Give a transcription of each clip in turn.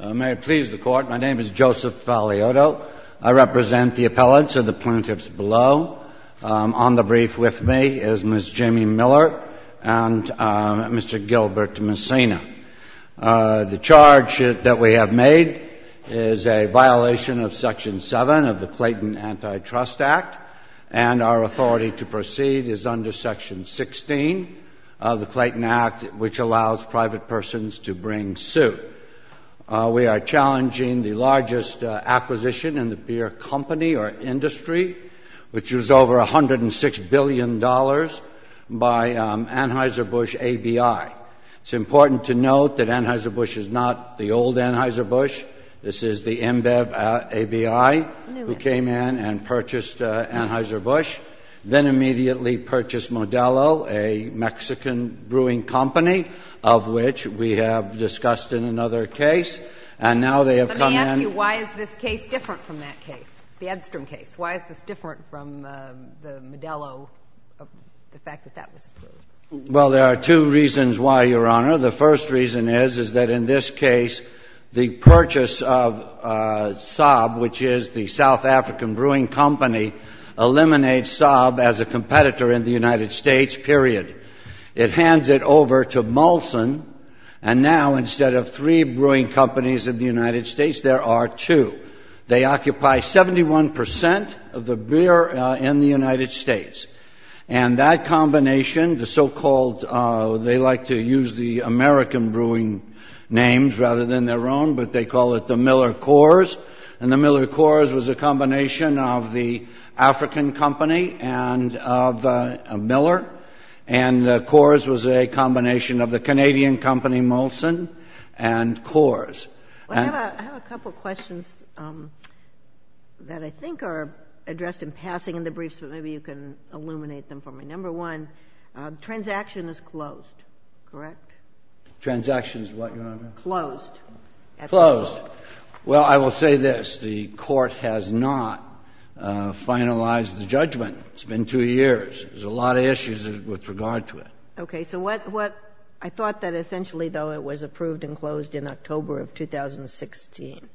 May it please the Court, my name is Joseph Fagliotto. I represent the appellants and the plaintiffs below. On the brief with me is Ms. Jamie Miller and Mr. Gilbert Messina. The charge that we have made is a violation of Section 7 of the Clayton Antitrust Act, and our authority to proceed is under Section 16 of the Clayton Act, which allows private persons to bring suit. We are challenging the largest acquisition in the beer company or industry, which was over $106 billion by Anheuser-Busch ABI. It's important to note that Anheuser-Busch is not the old Anheuser-Busch. This is the Inbev ABI who came in and purchased Anheuser-Busch, then immediately purchased Modelo, a Mexican brewing company, of which we have discussed in another case. And now they have come in — But let me ask you, why is this case different from that case, the Edstrom case? Why is this different from the Modelo, the fact that that was approved? Well, there are two reasons why, Your Honor. The first reason is, is that in this case, the purchase of Saab, which is the South African brewing company, eliminates Saab as a competitor in the United States, period. It hands it over to Molson, and now, instead of three brewing companies in the United States, there are two. They occupy 71 percent of the beer in the United States. And that combination, the so-called — they like to use the American brewing names rather than their own, but they call it the Miller-Coors. And the Miller-Coors was a combination of the African company and of Miller, and Coors was a combination of the Canadian company, Molson, and Coors. I have a couple of questions that I think are addressed in passing in the briefs, but maybe you can illuminate them for me. Number one, transaction is closed, correct? Transaction is what, Your Honor? Closed. Closed. Well, I will say this. The Court has not finalized the judgment. It's been two years. There's a lot of issues with regard to it. Okay. So what — I thought that essentially, though, it was approved and closed in October of 2016.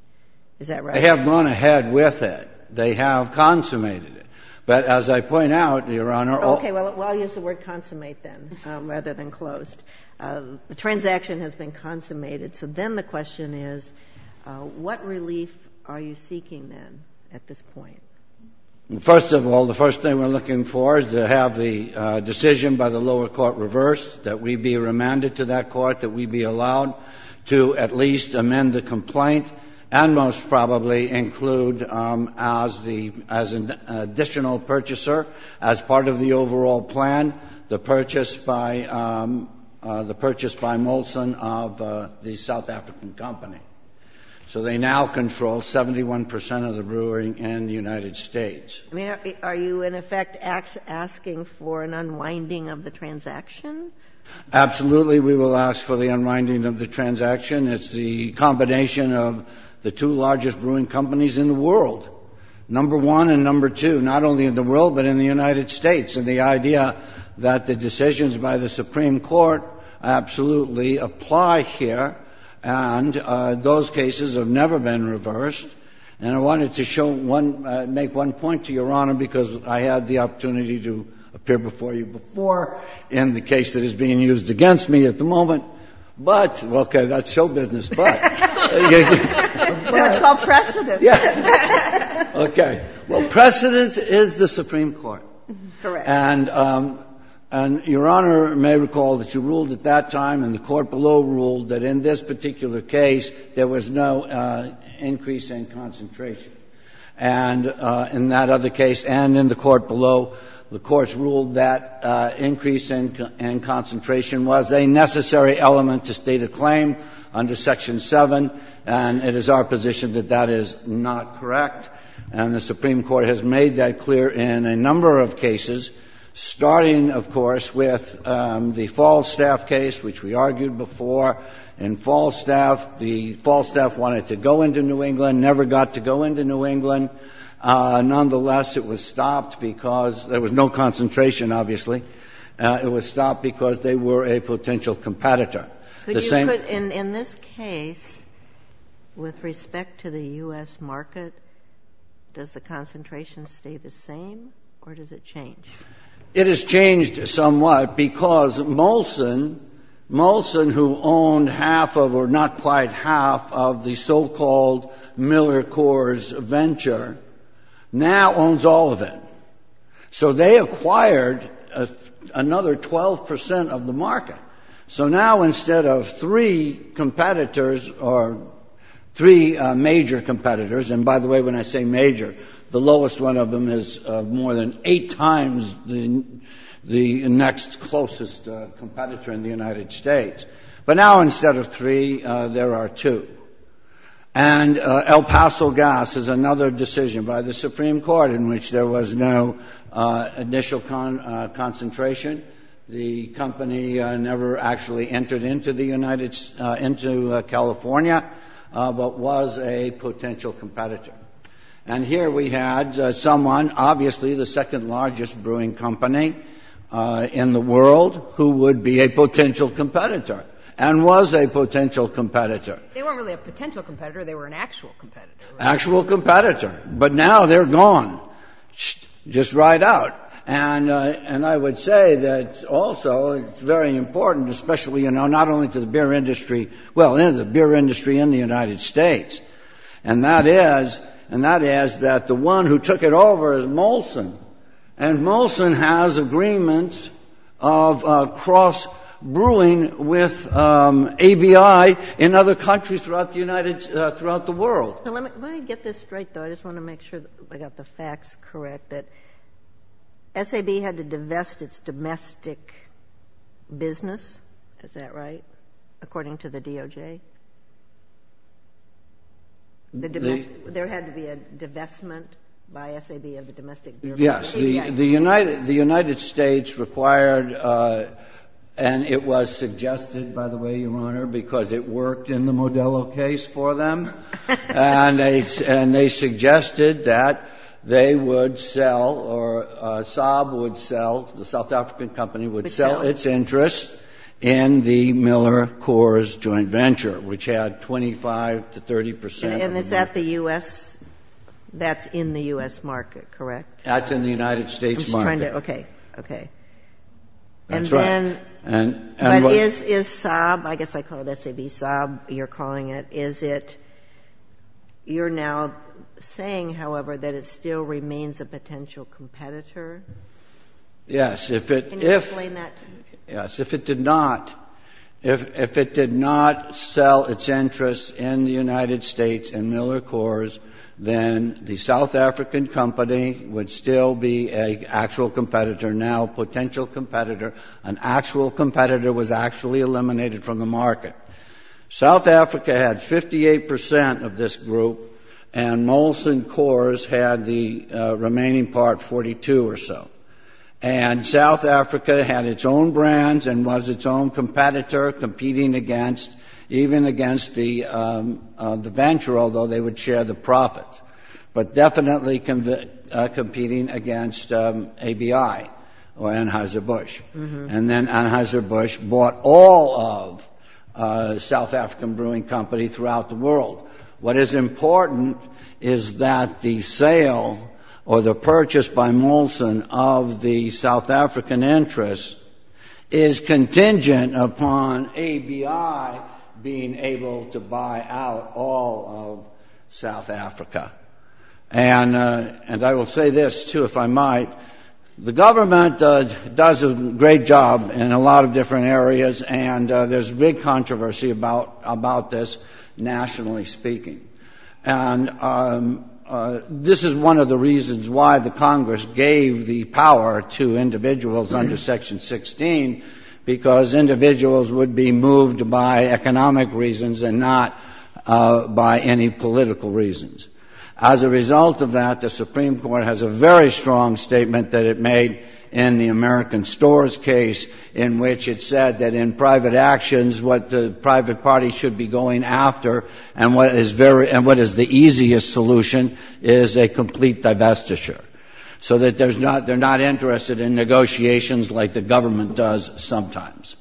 Is that right? They have gone ahead with it. They have consummated it. But as I point out, Your Honor — Okay. Well, I'll use the word consummate then, rather than closed. The transaction has been consummated. So then the question is, what relief are you seeking then at this point? Well, first of all, the first thing we're looking for is to have the decision by the lower court reversed, that we be remanded to that court, that we be allowed to at least plan the purchase by Molson of the South African company. So they now control 71 percent of the brewing in the United States. Are you, in effect, asking for an unwinding of the transaction? Absolutely, we will ask for the unwinding of the transaction. It's the combination of the two largest brewing companies in the world, number one and number two, not only in the world, but in the United States. And the idea that the decisions by the Supreme Court absolutely apply here. And those cases have never been reversed. And I wanted to show one — make one point to Your Honor, because I had the opportunity to appear before you before in the case that is being used against me at the moment. But — okay, that's show business. But — That's called precedence. Yes. Okay. Well, precedence is the Supreme Court. Correct. And Your Honor may recall that you ruled at that time, and the court below ruled, that in this particular case, there was no increase in concentration. And in that other case and in the court below, the courts ruled that increase in concentration was a necessary element to state a claim under Section 7. And it is our position that that is not correct. And the Supreme Court has made that clear in a number of cases, starting, of course, with the Falstaff case, which we argued before. In Falstaff, the — Falstaff wanted to go into New England, never got to go into New England. Nonetheless, it was stopped because — there was no concentration, obviously. It was stopped because they were a potential competitor. But you put — in this case, with respect to the U.S. market, does the concentration stay the same, or does it change? It has changed somewhat because Molson — Molson, who owned half of — or not quite half of the so-called Miller Coors venture, now owns all of it. So they acquired another 12 percent of the market. So now, instead of three competitors — or three major competitors — and by the way, when I say major, the lowest one of them is more than eight times the next closest competitor in the United States. But now, instead of three, there are two. And El Paso Gas is another decision by the Supreme Court in which there was no initial concentration. The company never actually entered into the United — into California, but was a potential competitor. And here we had someone, obviously the second-largest brewing company in the world, who would be a potential competitor and was a potential competitor. They weren't really a potential competitor. They were an actual competitor, right? And I would say that, also, it's very important, especially, you know, not only to the beer industry — well, the beer industry in the United States. And that is — and that is that the one who took it over is Molson. And Molson has agreements of cross-brewing with ABI in other countries throughout the United — throughout the world. So let me — let me get this straight, though. I just want to make sure that I got the facts correct, that SAB had to divest its domestic business, is that right, according to the DOJ? The domestic — there had to be a divestment by SAB of the domestic beer company? Yes. The United States required — and it was suggested, by the way, Your Honor, because it worked in the Modelo case for them. And they — and they suggested that they would sell or SAB would sell — the South African company would sell its interests in the Miller Coors joint venture, which had 25 to 30 percent of the — And is that the U.S. — that's in the U.S. market, correct? That's in the United States market. I'm just trying to — okay. Okay. That's right. And — But is — is SAB — I guess I call it S-A-B, SAB, you're calling it — is it — you're now saying, however, that it still remains a potential competitor? Yes. If it — Can you explain that to me? Yes. If it did not — if it did not sell its interests in the United States in Miller Coors, then the South African company would still be an actual competitor, now potential competitor. An actual competitor was actually eliminated from the market. South Africa had 58 percent of this group, and Molson Coors had the remaining part, 42 or so. And South Africa had its own brands and was its own competitor, competing against — even against the venture, although they would share the profits. But definitely competing against ABI or Anheuser-Busch. And then Anheuser-Busch bought all of South African brewing company throughout the world. What is important is that the sale or the purchase by Molson of the South African interests is contingent upon ABI being able to buy out all of South Africa. And I will say this, too, if I might. The government does a great job in a lot of different areas, and there's big controversy about this, nationally speaking. And this is one of the reasons why the Congress gave the power to individuals under Section 16, because individuals would be moved by economic reasons and not by any political reasons. As a result of that, the Supreme Court has a very strong statement that it made in the American Stores case, in which it said that in private actions, what the private party should be going after and what is very — and what is the easiest solution is a complete divestiture, so that there's not — they're not interested in negotiations like the government does sometimes.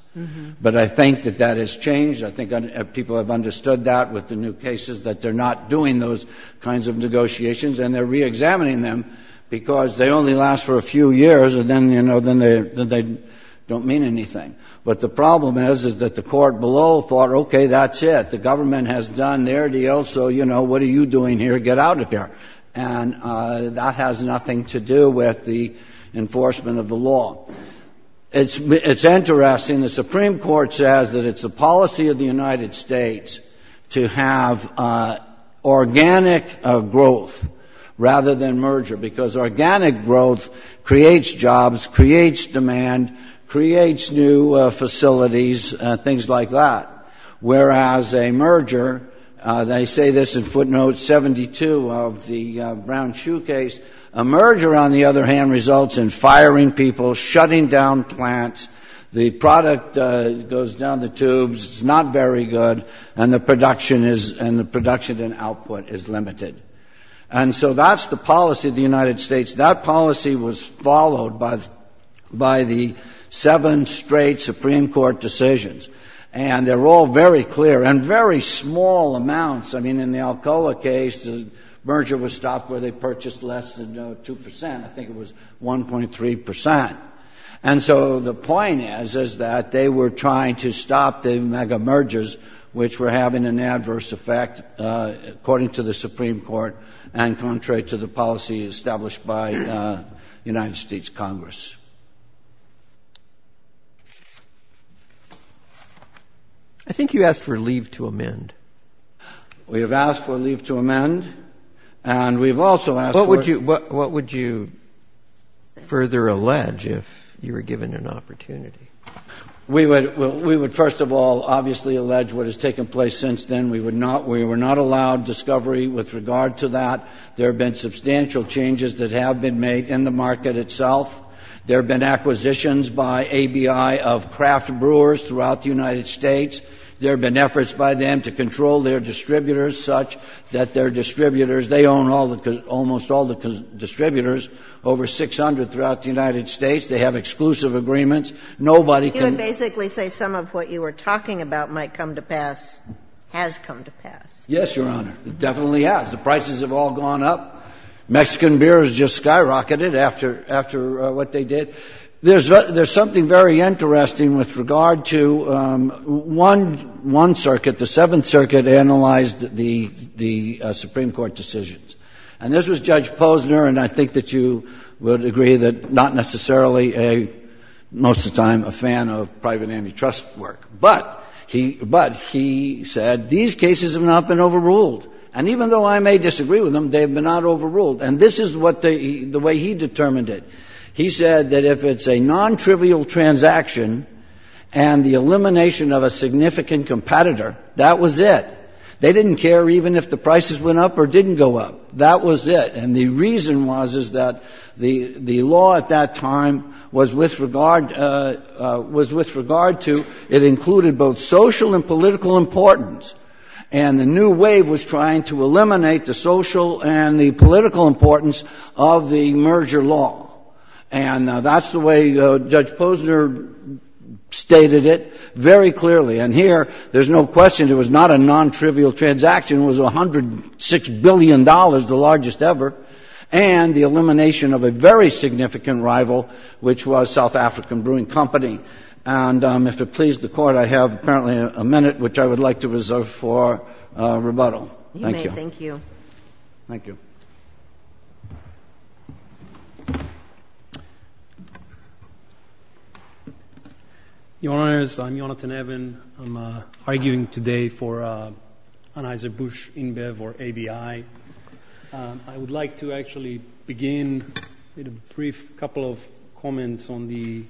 But I think that that has changed. I think people have understood that with the new cases, that they're not doing those kinds of negotiations, and they're reexamining them because they only last for a few years, and then, you know, then they don't mean anything. But the problem is, is that the court below thought, okay, that's it. The government has done their deal, so, you know, what are you doing here? Get out of here. And that has nothing to do with the enforcement of the law. It's interesting. The Supreme Court says that it's a policy of the United States to have organic growth rather than merger, because organic growth creates jobs, creates demand, creates new facilities, things like that, whereas a merger — they say this in footnote 72 of the Brown Shoe Case — a merger, on the other hand, results in firing people, shutting down plants, the product goes down the tubes, it's not very good, and the production is — and the production and output is limited. And so that's the policy of the United States. That policy was followed by the seven straight Supreme Court decisions, and they're all very clear, and very small amounts. I mean, in the Alcoa case, the merger was stopped where they purchased less than 2 percent. I think it was 1.3 percent. And so the point is, is that they were trying to stop the mega-mergers, which were having an adverse effect, according to the Supreme Court, and contrary to the policy established by the United States Congress. I think you asked for leave to amend. We have asked for leave to amend, and we've also asked for — What would you further allege if you were given an opportunity? We would, first of all, obviously allege what has taken place since then. We were not allowed discovery with regard to that. There have been substantial changes that have been made in the market itself. There have been acquisitions by ABI of craft brewers throughout the United States. There have been efforts by them to control their distributors such that their distributors — they own almost all the distributors, over 600 throughout the United States. They have exclusive agreements. Nobody can — You would basically say some of what you were talking about might come to pass — has come to pass. Yes, Your Honor. It definitely has. The prices have all gone up. Mexican beer has just skyrocketed. After what they did — there's something very interesting with regard to — one circuit, the Seventh Circuit, analyzed the Supreme Court decisions. And this was Judge Posner, and I think that you would agree that not necessarily a — most of the time, a fan of private antitrust work. But he said, these cases have not been overruled. And even though I may disagree with them, they have not been overruled. And this is what they — the way he determined it. He said that if it's a nontrivial transaction and the elimination of a significant competitor, that was it. They didn't care even if the prices went up or didn't go up. That was it. And the reason was, is that the law at that time was with regard to — it included both the political importance of the merger law. And that's the way Judge Posner stated it very clearly. And here, there's no question, it was not a nontrivial transaction. It was $106 billion, the largest ever, and the elimination of a very significant rival, which was South African Brewing Company. And if it pleases the Court, I have apparently a minute, which I would like to reserve for rebuttal. Thank you. You may. Thank you. Your Honors, I'm Jonathan Evan. I'm arguing today for Anheuser-Busch, InBev, or ABI. I would like to actually begin with a brief couple of comments on the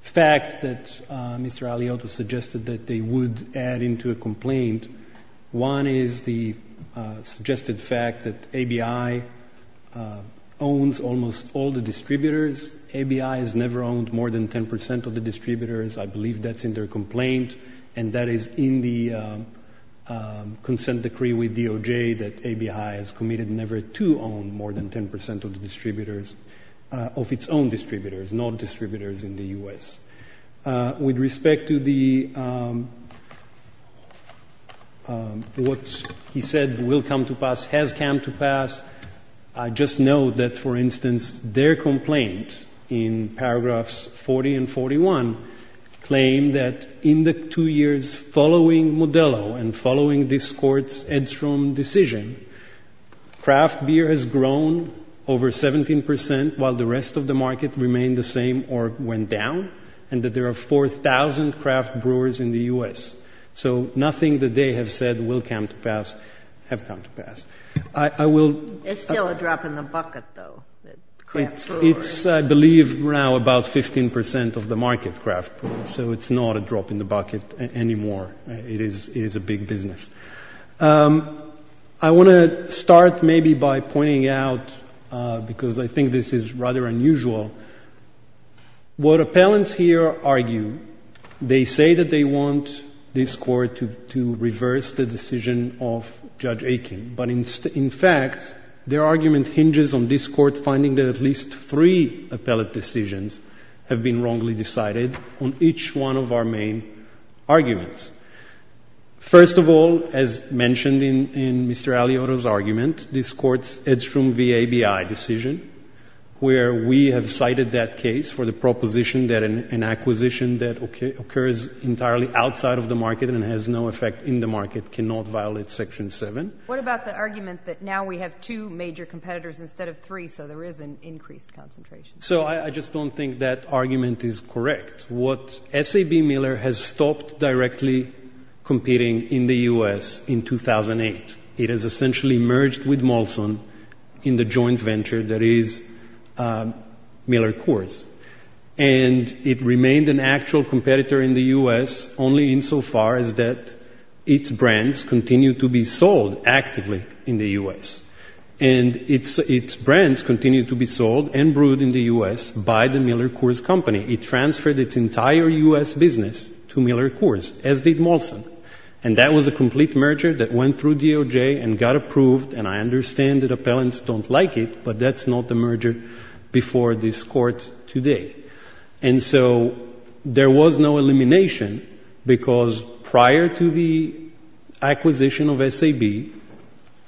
facts that Mr. Aliotto suggested that they would add into a complaint. One is the suggested fact that ABI owns almost all the distributors. ABI has never owned more than 10 percent of the distributors. I believe that's in their complaint. And that is in the consent decree with DOJ that ABI has committed never to own more than 10 percent of the distributors, of its own distributors, non-distributors in the U.S. With respect to what he said will come to pass, has come to pass, I just note that, for instance, their complaint in paragraphs 40 and 41 claim that in the two years following Modelo and following this Court's Edstrom decision, craft beer has grown over 17 percent while the rest of the market remained the same or went down, and that there are 4,000 craft brewers in the U.S. So nothing that they have said will come to pass have come to pass. It's still a drop in the bucket, though, craft brewers. It's, I believe, now about 15 percent of the market, craft brewers. So it's not a drop in the bucket anymore. It is a big business. I want to start maybe by pointing out, because I think this is rather unusual, what appellants here argue, they say that they want this Court to reverse the decision of Judge Aitken. But in fact, their argument hinges on this Court finding that at least three appellate decisions have been wrongly decided on each one of our main arguments. First of all, as mentioned in Mr. Alioto's argument, this Court's Edstrom v. ABI decision, where we have cited that case for the proposition that an acquisition that occurs entirely outside of the market and has no effect in the market cannot violate Section 7. What about the argument that now we have two major competitors instead of three, so there is an increased concentration? So I just don't think that argument is correct. What SAB Miller has stopped directly competing in the U.S. in 2008. It has essentially merged with Molson in the joint venture that is Miller Coors. And it remained an actual competitor in the U.S. only insofar as that its brands continue to be sold actively in the U.S. And its brands continue to be sold and brewed in the U.S. by the Miller Coors Company. It transferred its entire U.S. business to Miller Coors, as did Molson. And that was a complete merger that went through DOJ and got approved. And I understand that appellants don't like it, but that's not the merger before this Court today. And so there was no elimination because prior to the acquisition of SAB,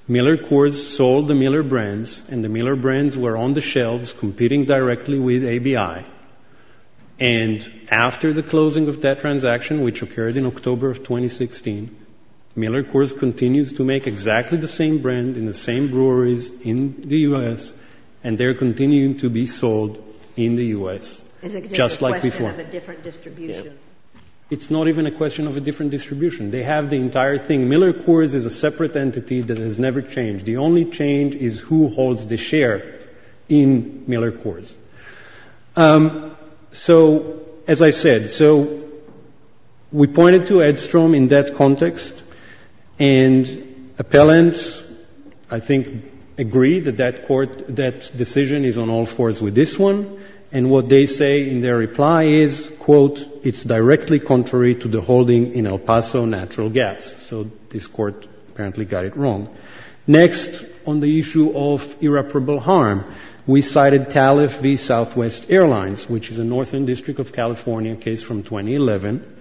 Miller Coors sold the Miller brands, and the Miller brands were on the shelves competing directly with ABI. And after the closing of that transaction, which occurred in October of 2016, Miller Coors continues to make exactly the same brand in the same breweries in the U.S., and they're continuing to be sold in the U.S., just like before. Is it just a question of a different distribution? It's not even a question of a different distribution. They have the entire thing. Miller Coors is a separate entity that has never changed. The only change is who holds the share in Miller Coors. So as I said, so we pointed to Edstrom in that context, and appellants, I think, agree that that Court, that decision is on all fours with this one. And what they say in their reply is, quote, it's directly contrary to the holding in El Paso Natural Gas. So this Court apparently got it wrong. Next, on the issue of irreparable harm, we cited TALIF v. Southwest Airlines, which is a Northern District of California case from 2011,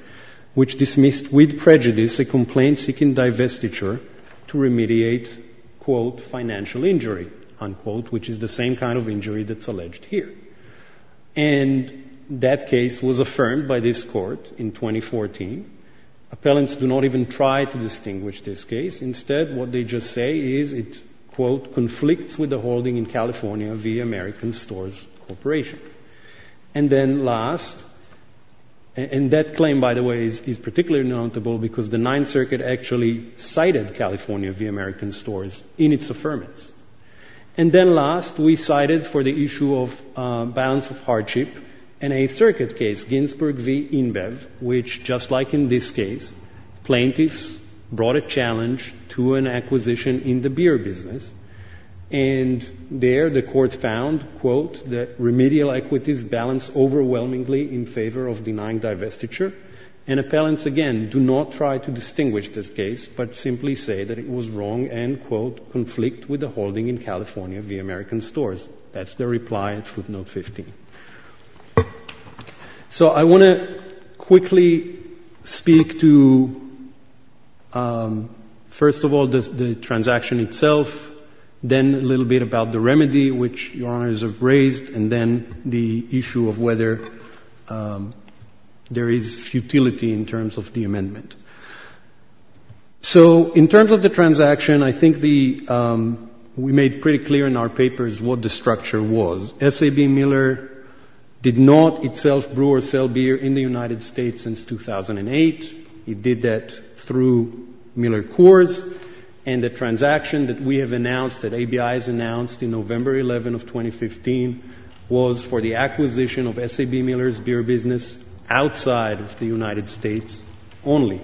which dismissed with prejudice a complaint seeking divestiture to remediate, quote, financial injury, unquote, which is the same kind of injury that's alleged here. And that case was affirmed by this Court in 2014. Appellants do not even try to distinguish this case. Instead, what they just say is it, quote, conflicts with the holding in California v. American Stores Corporation. And then last, and that claim, by the way, is particularly notable because the Ninth Circuit actually cited California v. American Stores in its affirmance. And then last, we cited for the issue of balance of hardship in a circuit case, Ginsburg v. New York. In this case, plaintiffs brought a challenge to an acquisition in the beer business. And there, the Court found, quote, that remedial equities balance overwhelmingly in favor of denying divestiture. And appellants, again, do not try to distinguish this case but simply say that it was wrong and, quote, conflict with the holding in California v. American Stores. That's their reply at footnote 15. So I want to quickly speak to, first of all, the transaction itself, then a little bit about the remedy, which Your Honors have raised, and then the issue of whether there is futility in terms of the amendment. So in terms of the transaction, I think the we made pretty clear in our papers what the structure was. S.A.B. Miller, the plaintiffs did not itself brew or sell beer in the United States since 2008. It did that through Miller Coors. And the transaction that we have announced, that ABI has announced in November 11 of 2015, was for the acquisition of S.A.B. Miller's beer business outside of the United States only.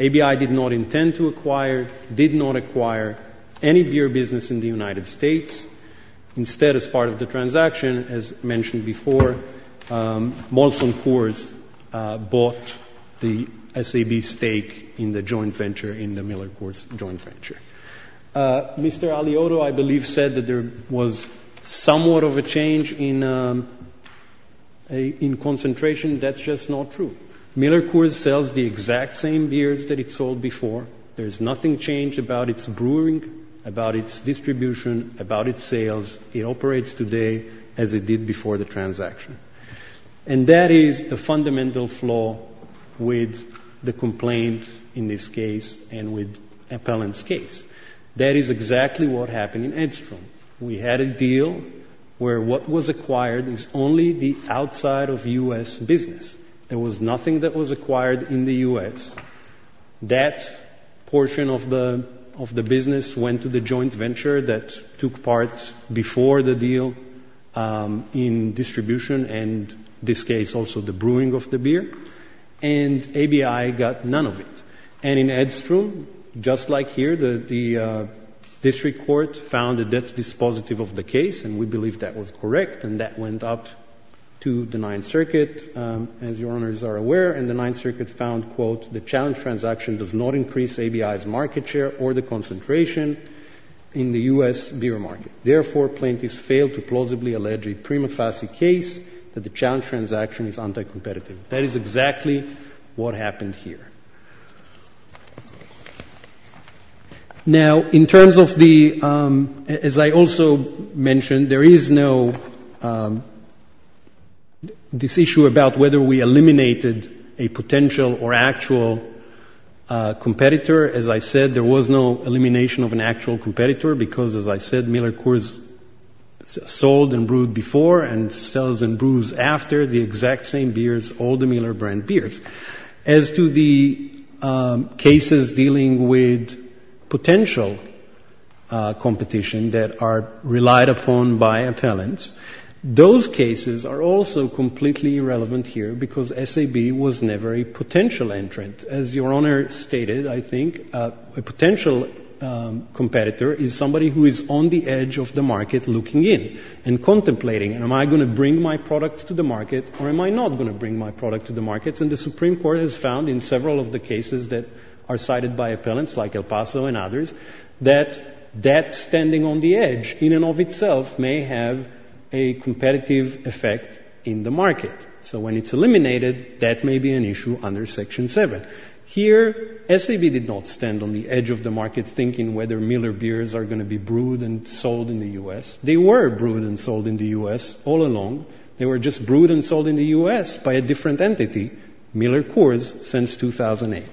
ABI did not intend to acquire, did not acquire any beer business in the United States. Instead, as part of the transaction, as mentioned before, Molson Coors bought the S.A.B. stake in the joint venture, in the Miller Coors joint venture. Mr. Aliotto, I believe, said that there was somewhat of a change in concentration. That's just not true. Miller Coors sells the exact same beers that it did before the transaction. And that is the fundamental flaw with the complaint in this case and with Appellant's case. That is exactly what happened in Edstrom. We had a deal where what was acquired is only the outside of U.S. business. There was nothing that was acquired in the U.S. That portion of the business went to the joint venture that was acquired, that took part before the deal in distribution and, in this case, also the brewing of the beer. And ABI got none of it. And in Edstrom, just like here, the district court found that that's dispositive of the case, and we believe that was correct, and that went up to the Ninth Circuit, as your Honors are aware. And the Ninth Circuit found, quote, the challenge transaction does not increase ABI's market share or the concentration in the U.S. beer market. Therefore, plaintiffs fail to plausibly allege a prima facie case that the challenge transaction is anti-competitive. That is exactly what happened here. Now, in terms of the, as I also mentioned, there is no, this issue about whether we eliminated a potential or actual competitor. As I said, there was no elimination of an actual competitor because, as I said, Miller Coors sold and brewed before and sells and brews after the exact same beers, all the Miller brand beers. As to the cases dealing with potential competition that are relied upon by appellants, those cases are also completely irrelevant here because SAB was never a potential entrant. As your Honor stated, I think a potential competitor is somebody who is on the edge of the market looking in and contemplating, am I going to bring my product to the market or am I not going to bring my product to the market? And the Supreme Court has found in several of the cases that are cited by appellants, like El Paso and others, that that standing on the edge in and of itself may have a competitive effect in the market. So when it's true, SAB did not stand on the edge of the market thinking whether Miller beers are going to be brewed and sold in the U.S. They were brewed and sold in the U.S. all along. They were just brewed and sold in the U.S. by a different entity, Miller Coors, since 2008.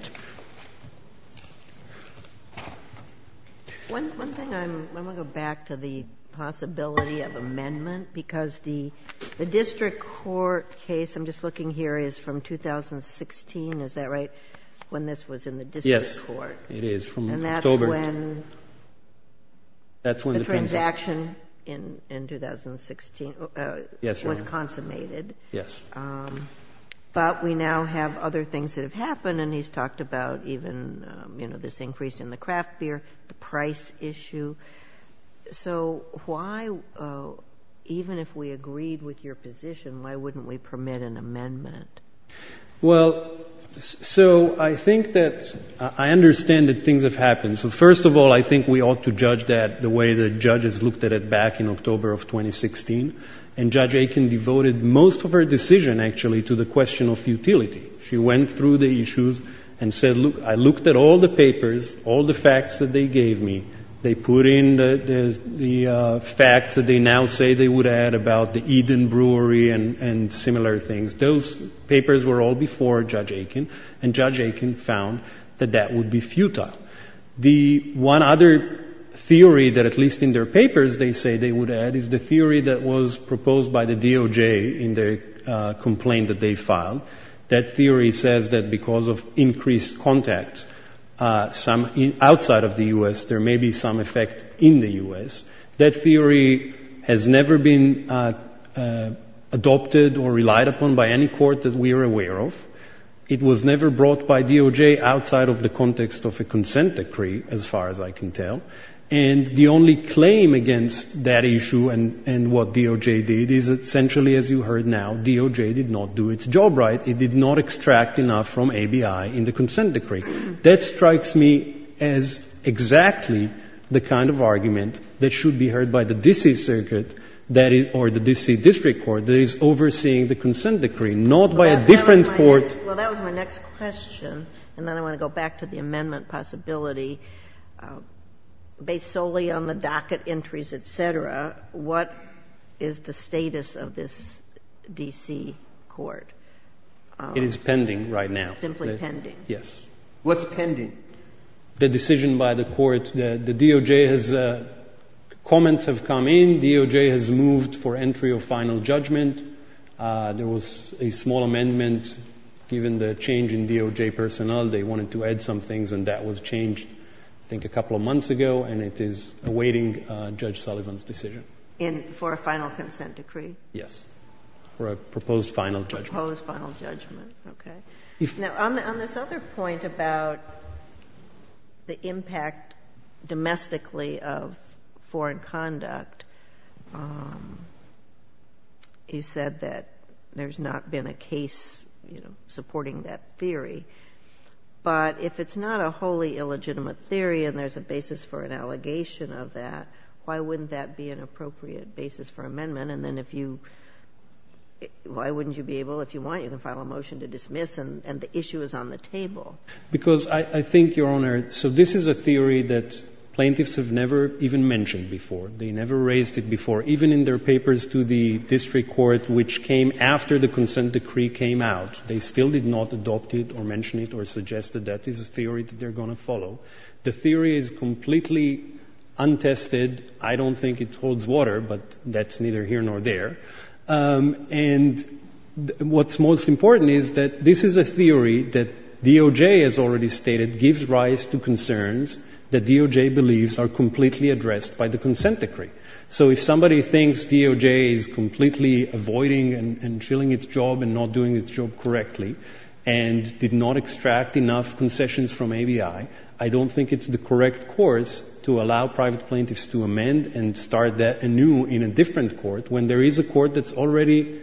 One thing, I'm going to go back to the possibility of amendment because the district court case I'm just looking here is from 2016, is that right, when this was in the district court? Yes, it is. And that's when the transaction in 2016 was consummated. Yes. But we now have other things that have happened, and he's talked about even this increase in the craft beer, the price issue. So why, even if we agreed with your position, why wouldn't we permit an amendment? Well, so I think that I understand that things have happened. So first of all, I think we ought to judge that the way the judges looked at it back in October of 2016. And Judge Aiken devoted most of her decision, actually, to the question of futility. She went through the issues and said, look, I looked at all the papers, all the facts that they gave me, they put in the facts that they now say they would add about the Eden Brewery and similar things. Those papers were all before Judge Aiken, and Judge Aiken found that that would be futile. The one other theory that at least in their papers they say they would add is the theory that was proposed by the DOJ in the complaint that they filed. That theory says that because of increased contact outside of the U.S., there may be some effect in the U.S. That theory has never been adopted or relied upon by any court that we are aware of. It was never brought by DOJ outside of the context of a consent decree, as far as I can tell. And the only claim against that issue and what DOJ did is essentially, as you heard now, DOJ did not do its job right. It did not extract enough from ABI in the consent decree. That strikes me as exactly the kind of argument that should be heard by the D.C. Circuit or the D.C. District Court that is overseeing the consent decree, not by a different court. Well, that was my next question, and then I want to go back to the amendment possibility. Based solely on the docket entries, et cetera, what is the status of this D.C. court? It is pending right now. Simply pending. Yes. What's pending? The decision by the court. The DOJ has, comments have come in. DOJ has moved for entry of final judgment. There was a small amendment given the change in DOJ personnel. They wanted to add some things, and that was changed, I think, a couple of months ago, and it is awaiting Judge Sullivan's decision. For a final consent decree? Yes. For a proposed final judgment. Proposed final judgment. Okay. Now, on this other point about the impact domestically of foreign conduct, you said that there's not been a case, you know, supporting that theory. But if it's not a wholly illegitimate theory and there's a basis for an allegation of that, why wouldn't that be an appropriate basis for amendment? And then if you why wouldn't you be able, if you want, to file a motion to dismiss and the issue is on the table? Because I think, Your Honor, so this is a theory that plaintiffs have never even mentioned before. They never raised it before, even in their papers to the district court, which came after the consent decree came out. They still did not adopt it or mention it or suggest that that is a theory that they're going to follow. The theory is completely untested. I don't think it holds water, but that's neither here nor there. And what's most important is that this is a theory that DOJ has already stated gives rise to concerns that DOJ believes are completely addressed by the consent decree. So if somebody thinks DOJ is completely avoiding and chilling its job and not doing its job correctly and did not extract enough concessions from ABI, I don't think it's the correct course to allow private plaintiffs to amend and start anew in a different court when there is a court that's already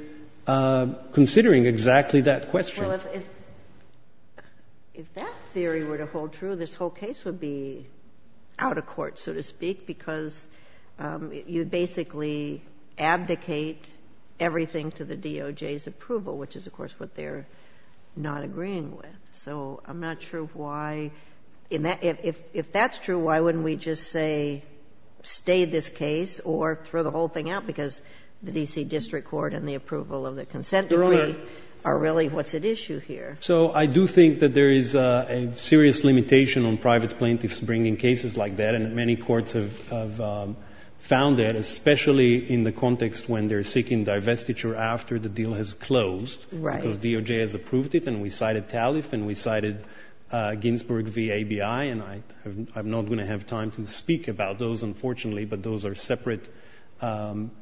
considering exactly that question. Well, if that theory were to hold true, this whole case would be out of court, so to speak, and basically abdicate everything to the DOJ's approval, which is, of course, what they're not agreeing with. So I'm not sure why, if that's true, why wouldn't we just say stay this case or throw the whole thing out because the D.C. District Court and the approval of the consent decree are really what's at issue here? So I do think that there is a serious limitation on private plaintiffs bringing cases like that, and many courts have found that, especially in the context when they're seeking divestiture after the deal has closed because DOJ has approved it and we cited TALIF and we cited Ginsburg v. ABI, and I'm not going to have time to speak about those, unfortunately, but those are separate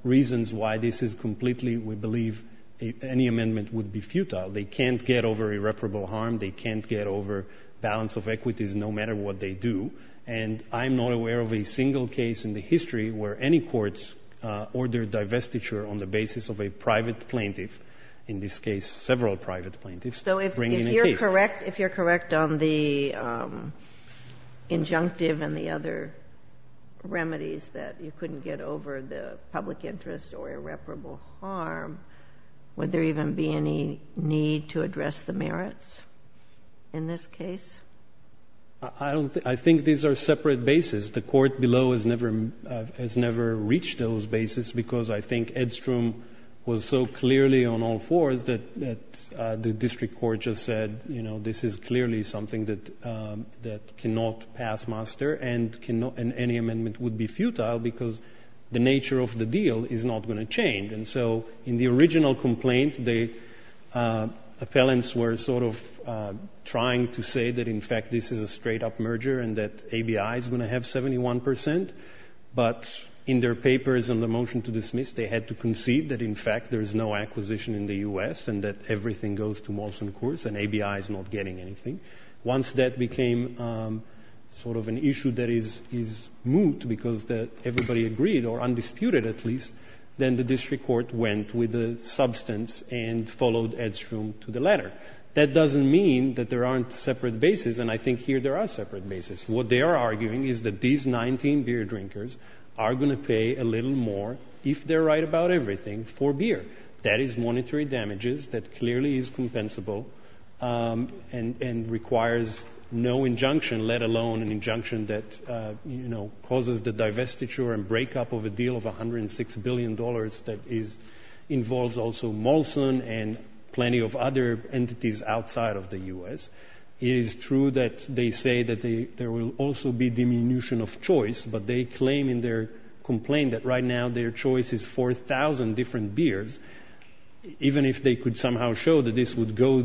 reasons why this is completely, we believe, any amendment would be futile. They can't get over irreparable harm. They can't get over balance of equities no matter what they do, and I'm not aware of a single case in the history where any courts ordered divestiture on the basis of a private plaintiff, in this case several private plaintiffs, bringing a case. So if you're correct on the injunctive and the other remedies that you couldn't get over the public interest or irreparable harm, would there even be any need to do that in this case? I think these are separate bases. The court below has never reached those bases because I think Edstrom was so clearly on all fours that the district court just said, you know, this is clearly something that cannot pass master and any amendment would be futile because the nature of the deal is not going to change. And so in the original complaint, the appellants were sort of trying to say that in fact this is a straight up merger and that ABI is going to have 71%, but in their papers and the motion to dismiss they had to concede that in fact there is no acquisition in the U.S. and that everything goes to Molson Courts and ABI is not getting anything. Once that became sort of an issue that is moot because everybody agreed or undisputed at least, then the district court went with the substance and followed Edstrom to the letter. That doesn't mean that there aren't separate bases and I think here there are separate bases. What they are arguing is that these 19 beer drinkers are going to pay a little more if they're right about everything for beer. That is monetary damages that clearly is compensable and requires no injunction, let alone an injunction that, you know, causes the restiture and breakup of a deal of $106 billion that involves also Molson and plenty of other entities outside of the U.S. It is true that they say that there will also be diminution of choice, but they claim in their complaint that right now their choice is 4,000 different beers. Even if they could somehow show that this would go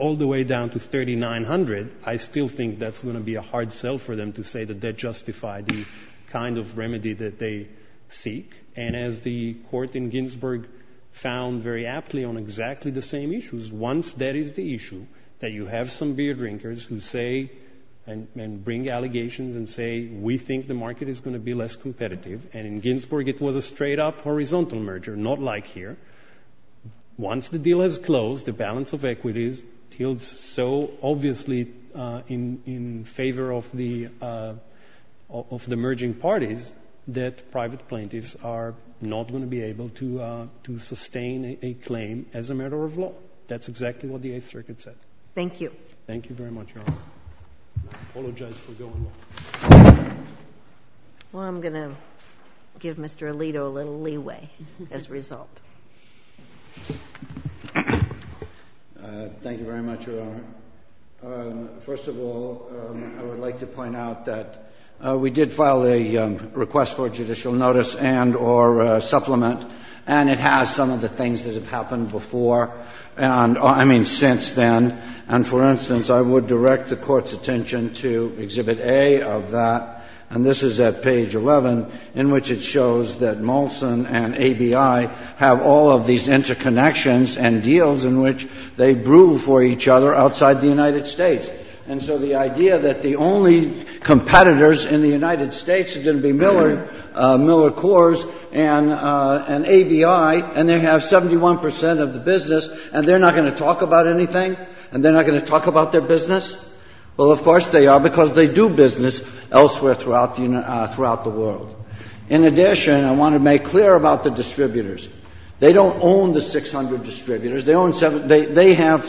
all the way down to 3,900, I still think that's going to be a hard sell for them to say that that justified the kind of remedy that they seek. And as the court in Ginsburg found very aptly on exactly the same issues, once that is the issue, that you have some beer drinkers who say and bring allegations and say we think the market is going to be less competitive, and in Ginsburg it was a straight up horizontal merger, not like here. Once the deal is closed, the balance of equities tilts so obviously in favor of the merging parties that private plaintiffs are not going to be able to sustain a claim as a matter of law. That's exactly what the Eighth Circuit said. Thank you. Thank you very much, Your Honor. I apologize for going on. Well, I'm going to give Mr. Alito a little leeway as a result. Thank you very much, Your Honor. First of all, I would like to point out that we did file a request for judicial notice and or supplement, and it has some of the things that have happened before, and I mean since then. And for instance, I would direct the Court's attention to Exhibit A of that, and this is at page 11, in which it shows that Molson and ABI have all of these interconnections and deals in which they brew for each other outside the United States. And so the idea that the only competitors in the United States are going to be Miller, Miller Coors and ABI, and they have 71 percent of the business, and they're not going to talk about anything? And they're not going to talk about their business? Well, of course they are, because they do business elsewhere throughout the world. In addition, I want to make clear about the distributors. They don't own the 600 distributors. They have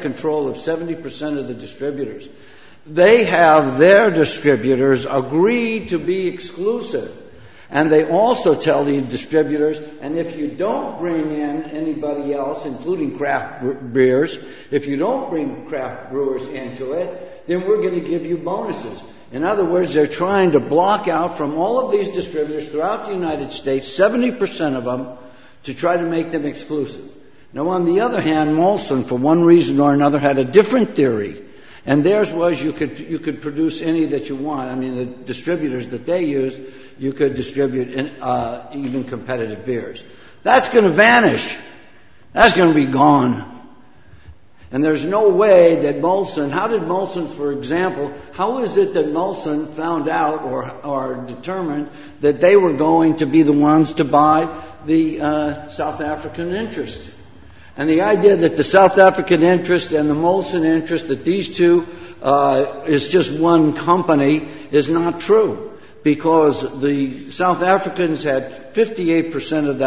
control of 70 percent of the distributors. They have their distributors agree to be exclusive, and they also tell the distributors, and if you don't bring in anybody else, including craft brewers, if you don't bring craft brewers into it, then we're going to give you bonuses. In other words, they're trying to block out from all of these distributors throughout the United States, 70 percent of them, to try to make them exclusive. Now, on the other hand, Molson, for one reason or another, had a different theory, and theirs was you could produce any that you want. I mean, the distributors that they use, you could distribute even competitive beers. That's going to vanish. That's going to be gone. And there's no way that Molson, how did Molson, for example, how is it that Molson found out or determined that they were going to be the ones to buy the South African interest? And the idea that the South African interest and the Molson interest, that these two is just one company, is not true, because the South Africans had 58 percent of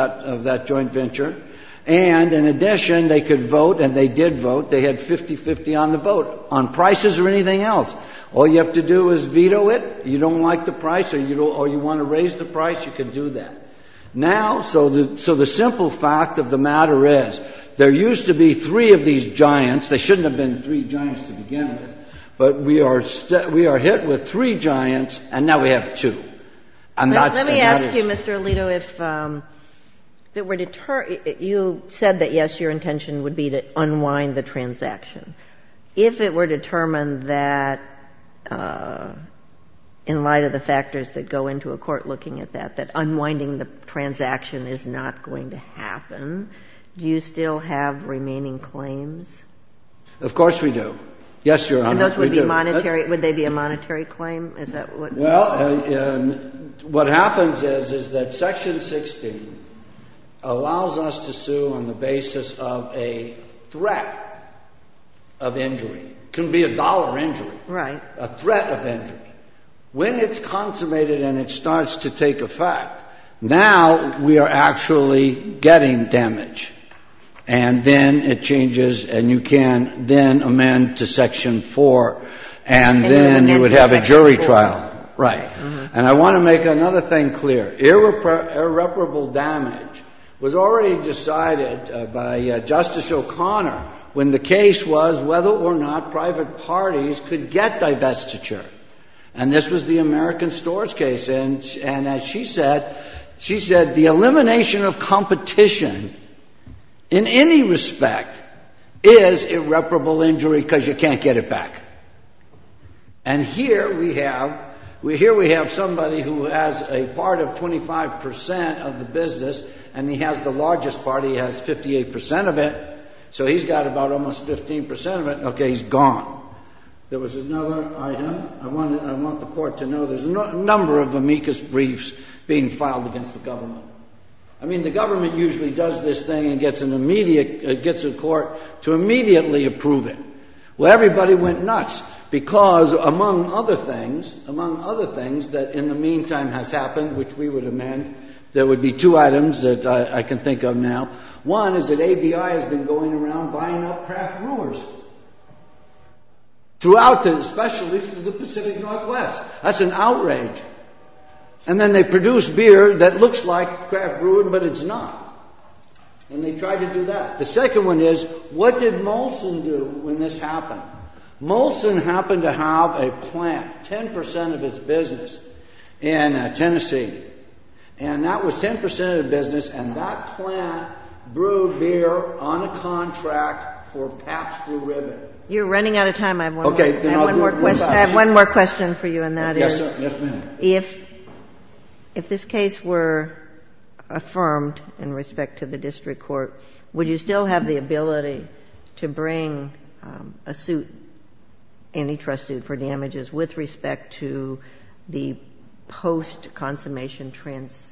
that joint venture, and in addition, they could vote, and they did vote. They had 50-50 on the vote on prices or anything else. All you have to do is veto it. You don't like the price, or you want to raise the price, you can do that. Now, so the simple fact of the matter is there used to be three of these giants. There shouldn't have been three giants to begin with, but we are hit with three giants, and now we have two. And that's the matter. Let me ask you, Mr. Alito, if it were to turn — you said that, yes, your intention would be to unwind the transaction. If it were determined that, in light of the factors that go into a court looking at that, that unwinding the transaction is not going to happen, do you still have remaining claims? Of course we do. Yes, Your Honor, we do. And those would be monetary — would they be a monetary claim? Is that what you're saying? Well, what happens is, is that Section 16 allows us to sue on the basis of a threat of injury. It can be a dollar injury. Right. A threat of injury. When it's consummated and it starts to take effect, now we are actually getting damage. And then it changes, and you can then amend to Section 4, and then you can amend to Section 5. Right. And I want to make another thing clear. Irreparable damage was already decided by Justice O'Connor when the case was whether or not private parties could get divestiture. And this was the American stores case. And as she said, she said the elimination of competition in any respect is irreparable injury because you can't get it back. And here we have — here we have somebody who has a part of 25 percent of the business, and he has the largest part. He has 58 percent of it, so he's got about almost 15 percent of it. Okay, he's gone. There was another item. I want the court to know there's a number of amicus briefs being filed against the government. I mean, the government usually does this thing and gets an immediate — gets a court to immediately approve it. Well, everybody went nuts because among other things — among other things that in the meantime has happened, which we would amend, there would be two items that I can think of now. One is that ABI has been going around buying up craft brewers throughout the specialties of the Pacific Northwest. That's an outrage. And then they produce beer that looks like craft brewing, but it's not. And they tried to do that. The second one is, what did Molson do when this happened? Molson happened to have a plant, 10 percent of its business, in Tennessee. And that was 10 percent of the business, and that plant brewed beer on a contract for Pabst Brew Ribbon. You're running out of time. I have one more question for you, and that is — Yes, sir. Yes, ma'am. If this case were affirmed in respect to the district court, would you still have the ability to bring a suit, antitrust suit, for damages with respect to the post-consummation transactions?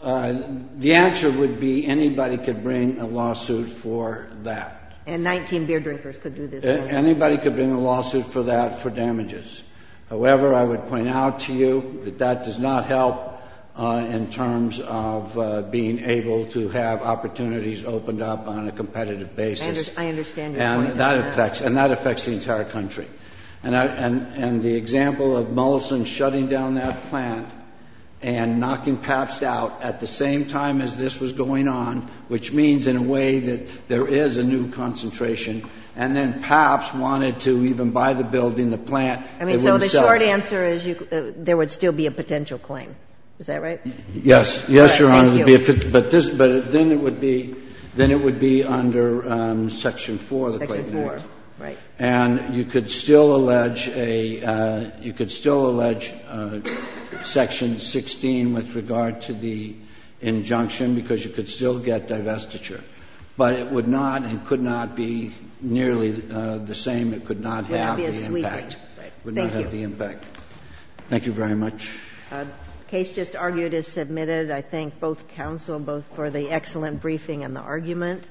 The answer would be anybody could bring a lawsuit for that. And 19 beer drinkers could do this? Anybody could bring a lawsuit for that for damages. However, I would point out to you that that does not help in terms of being able to have opportunities opened up on a competitive basis. I understand your point. And that affects the entire country. And the example of Molson shutting down that plant and knocking Pabst out at the same time as this was going on, which means in a way that there is a new concentration, and then Pabst wanted to even buy the building, the plant. I mean, so the short answer is there would still be a potential claim. Is that right? Yes. Yes, Your Honor. Thank you. But then it would be under Section 4 of the Claims Act. Section 4, right. And you could still allege a — you could still allege Section 16 with regard to the But it would not and could not be nearly the same. It could not have the impact. It would not be as sweeping. It would not have the impact. Thank you. Thank you very much. The case just argued is submitted. I thank both counsel both for the excellent briefing and the argument.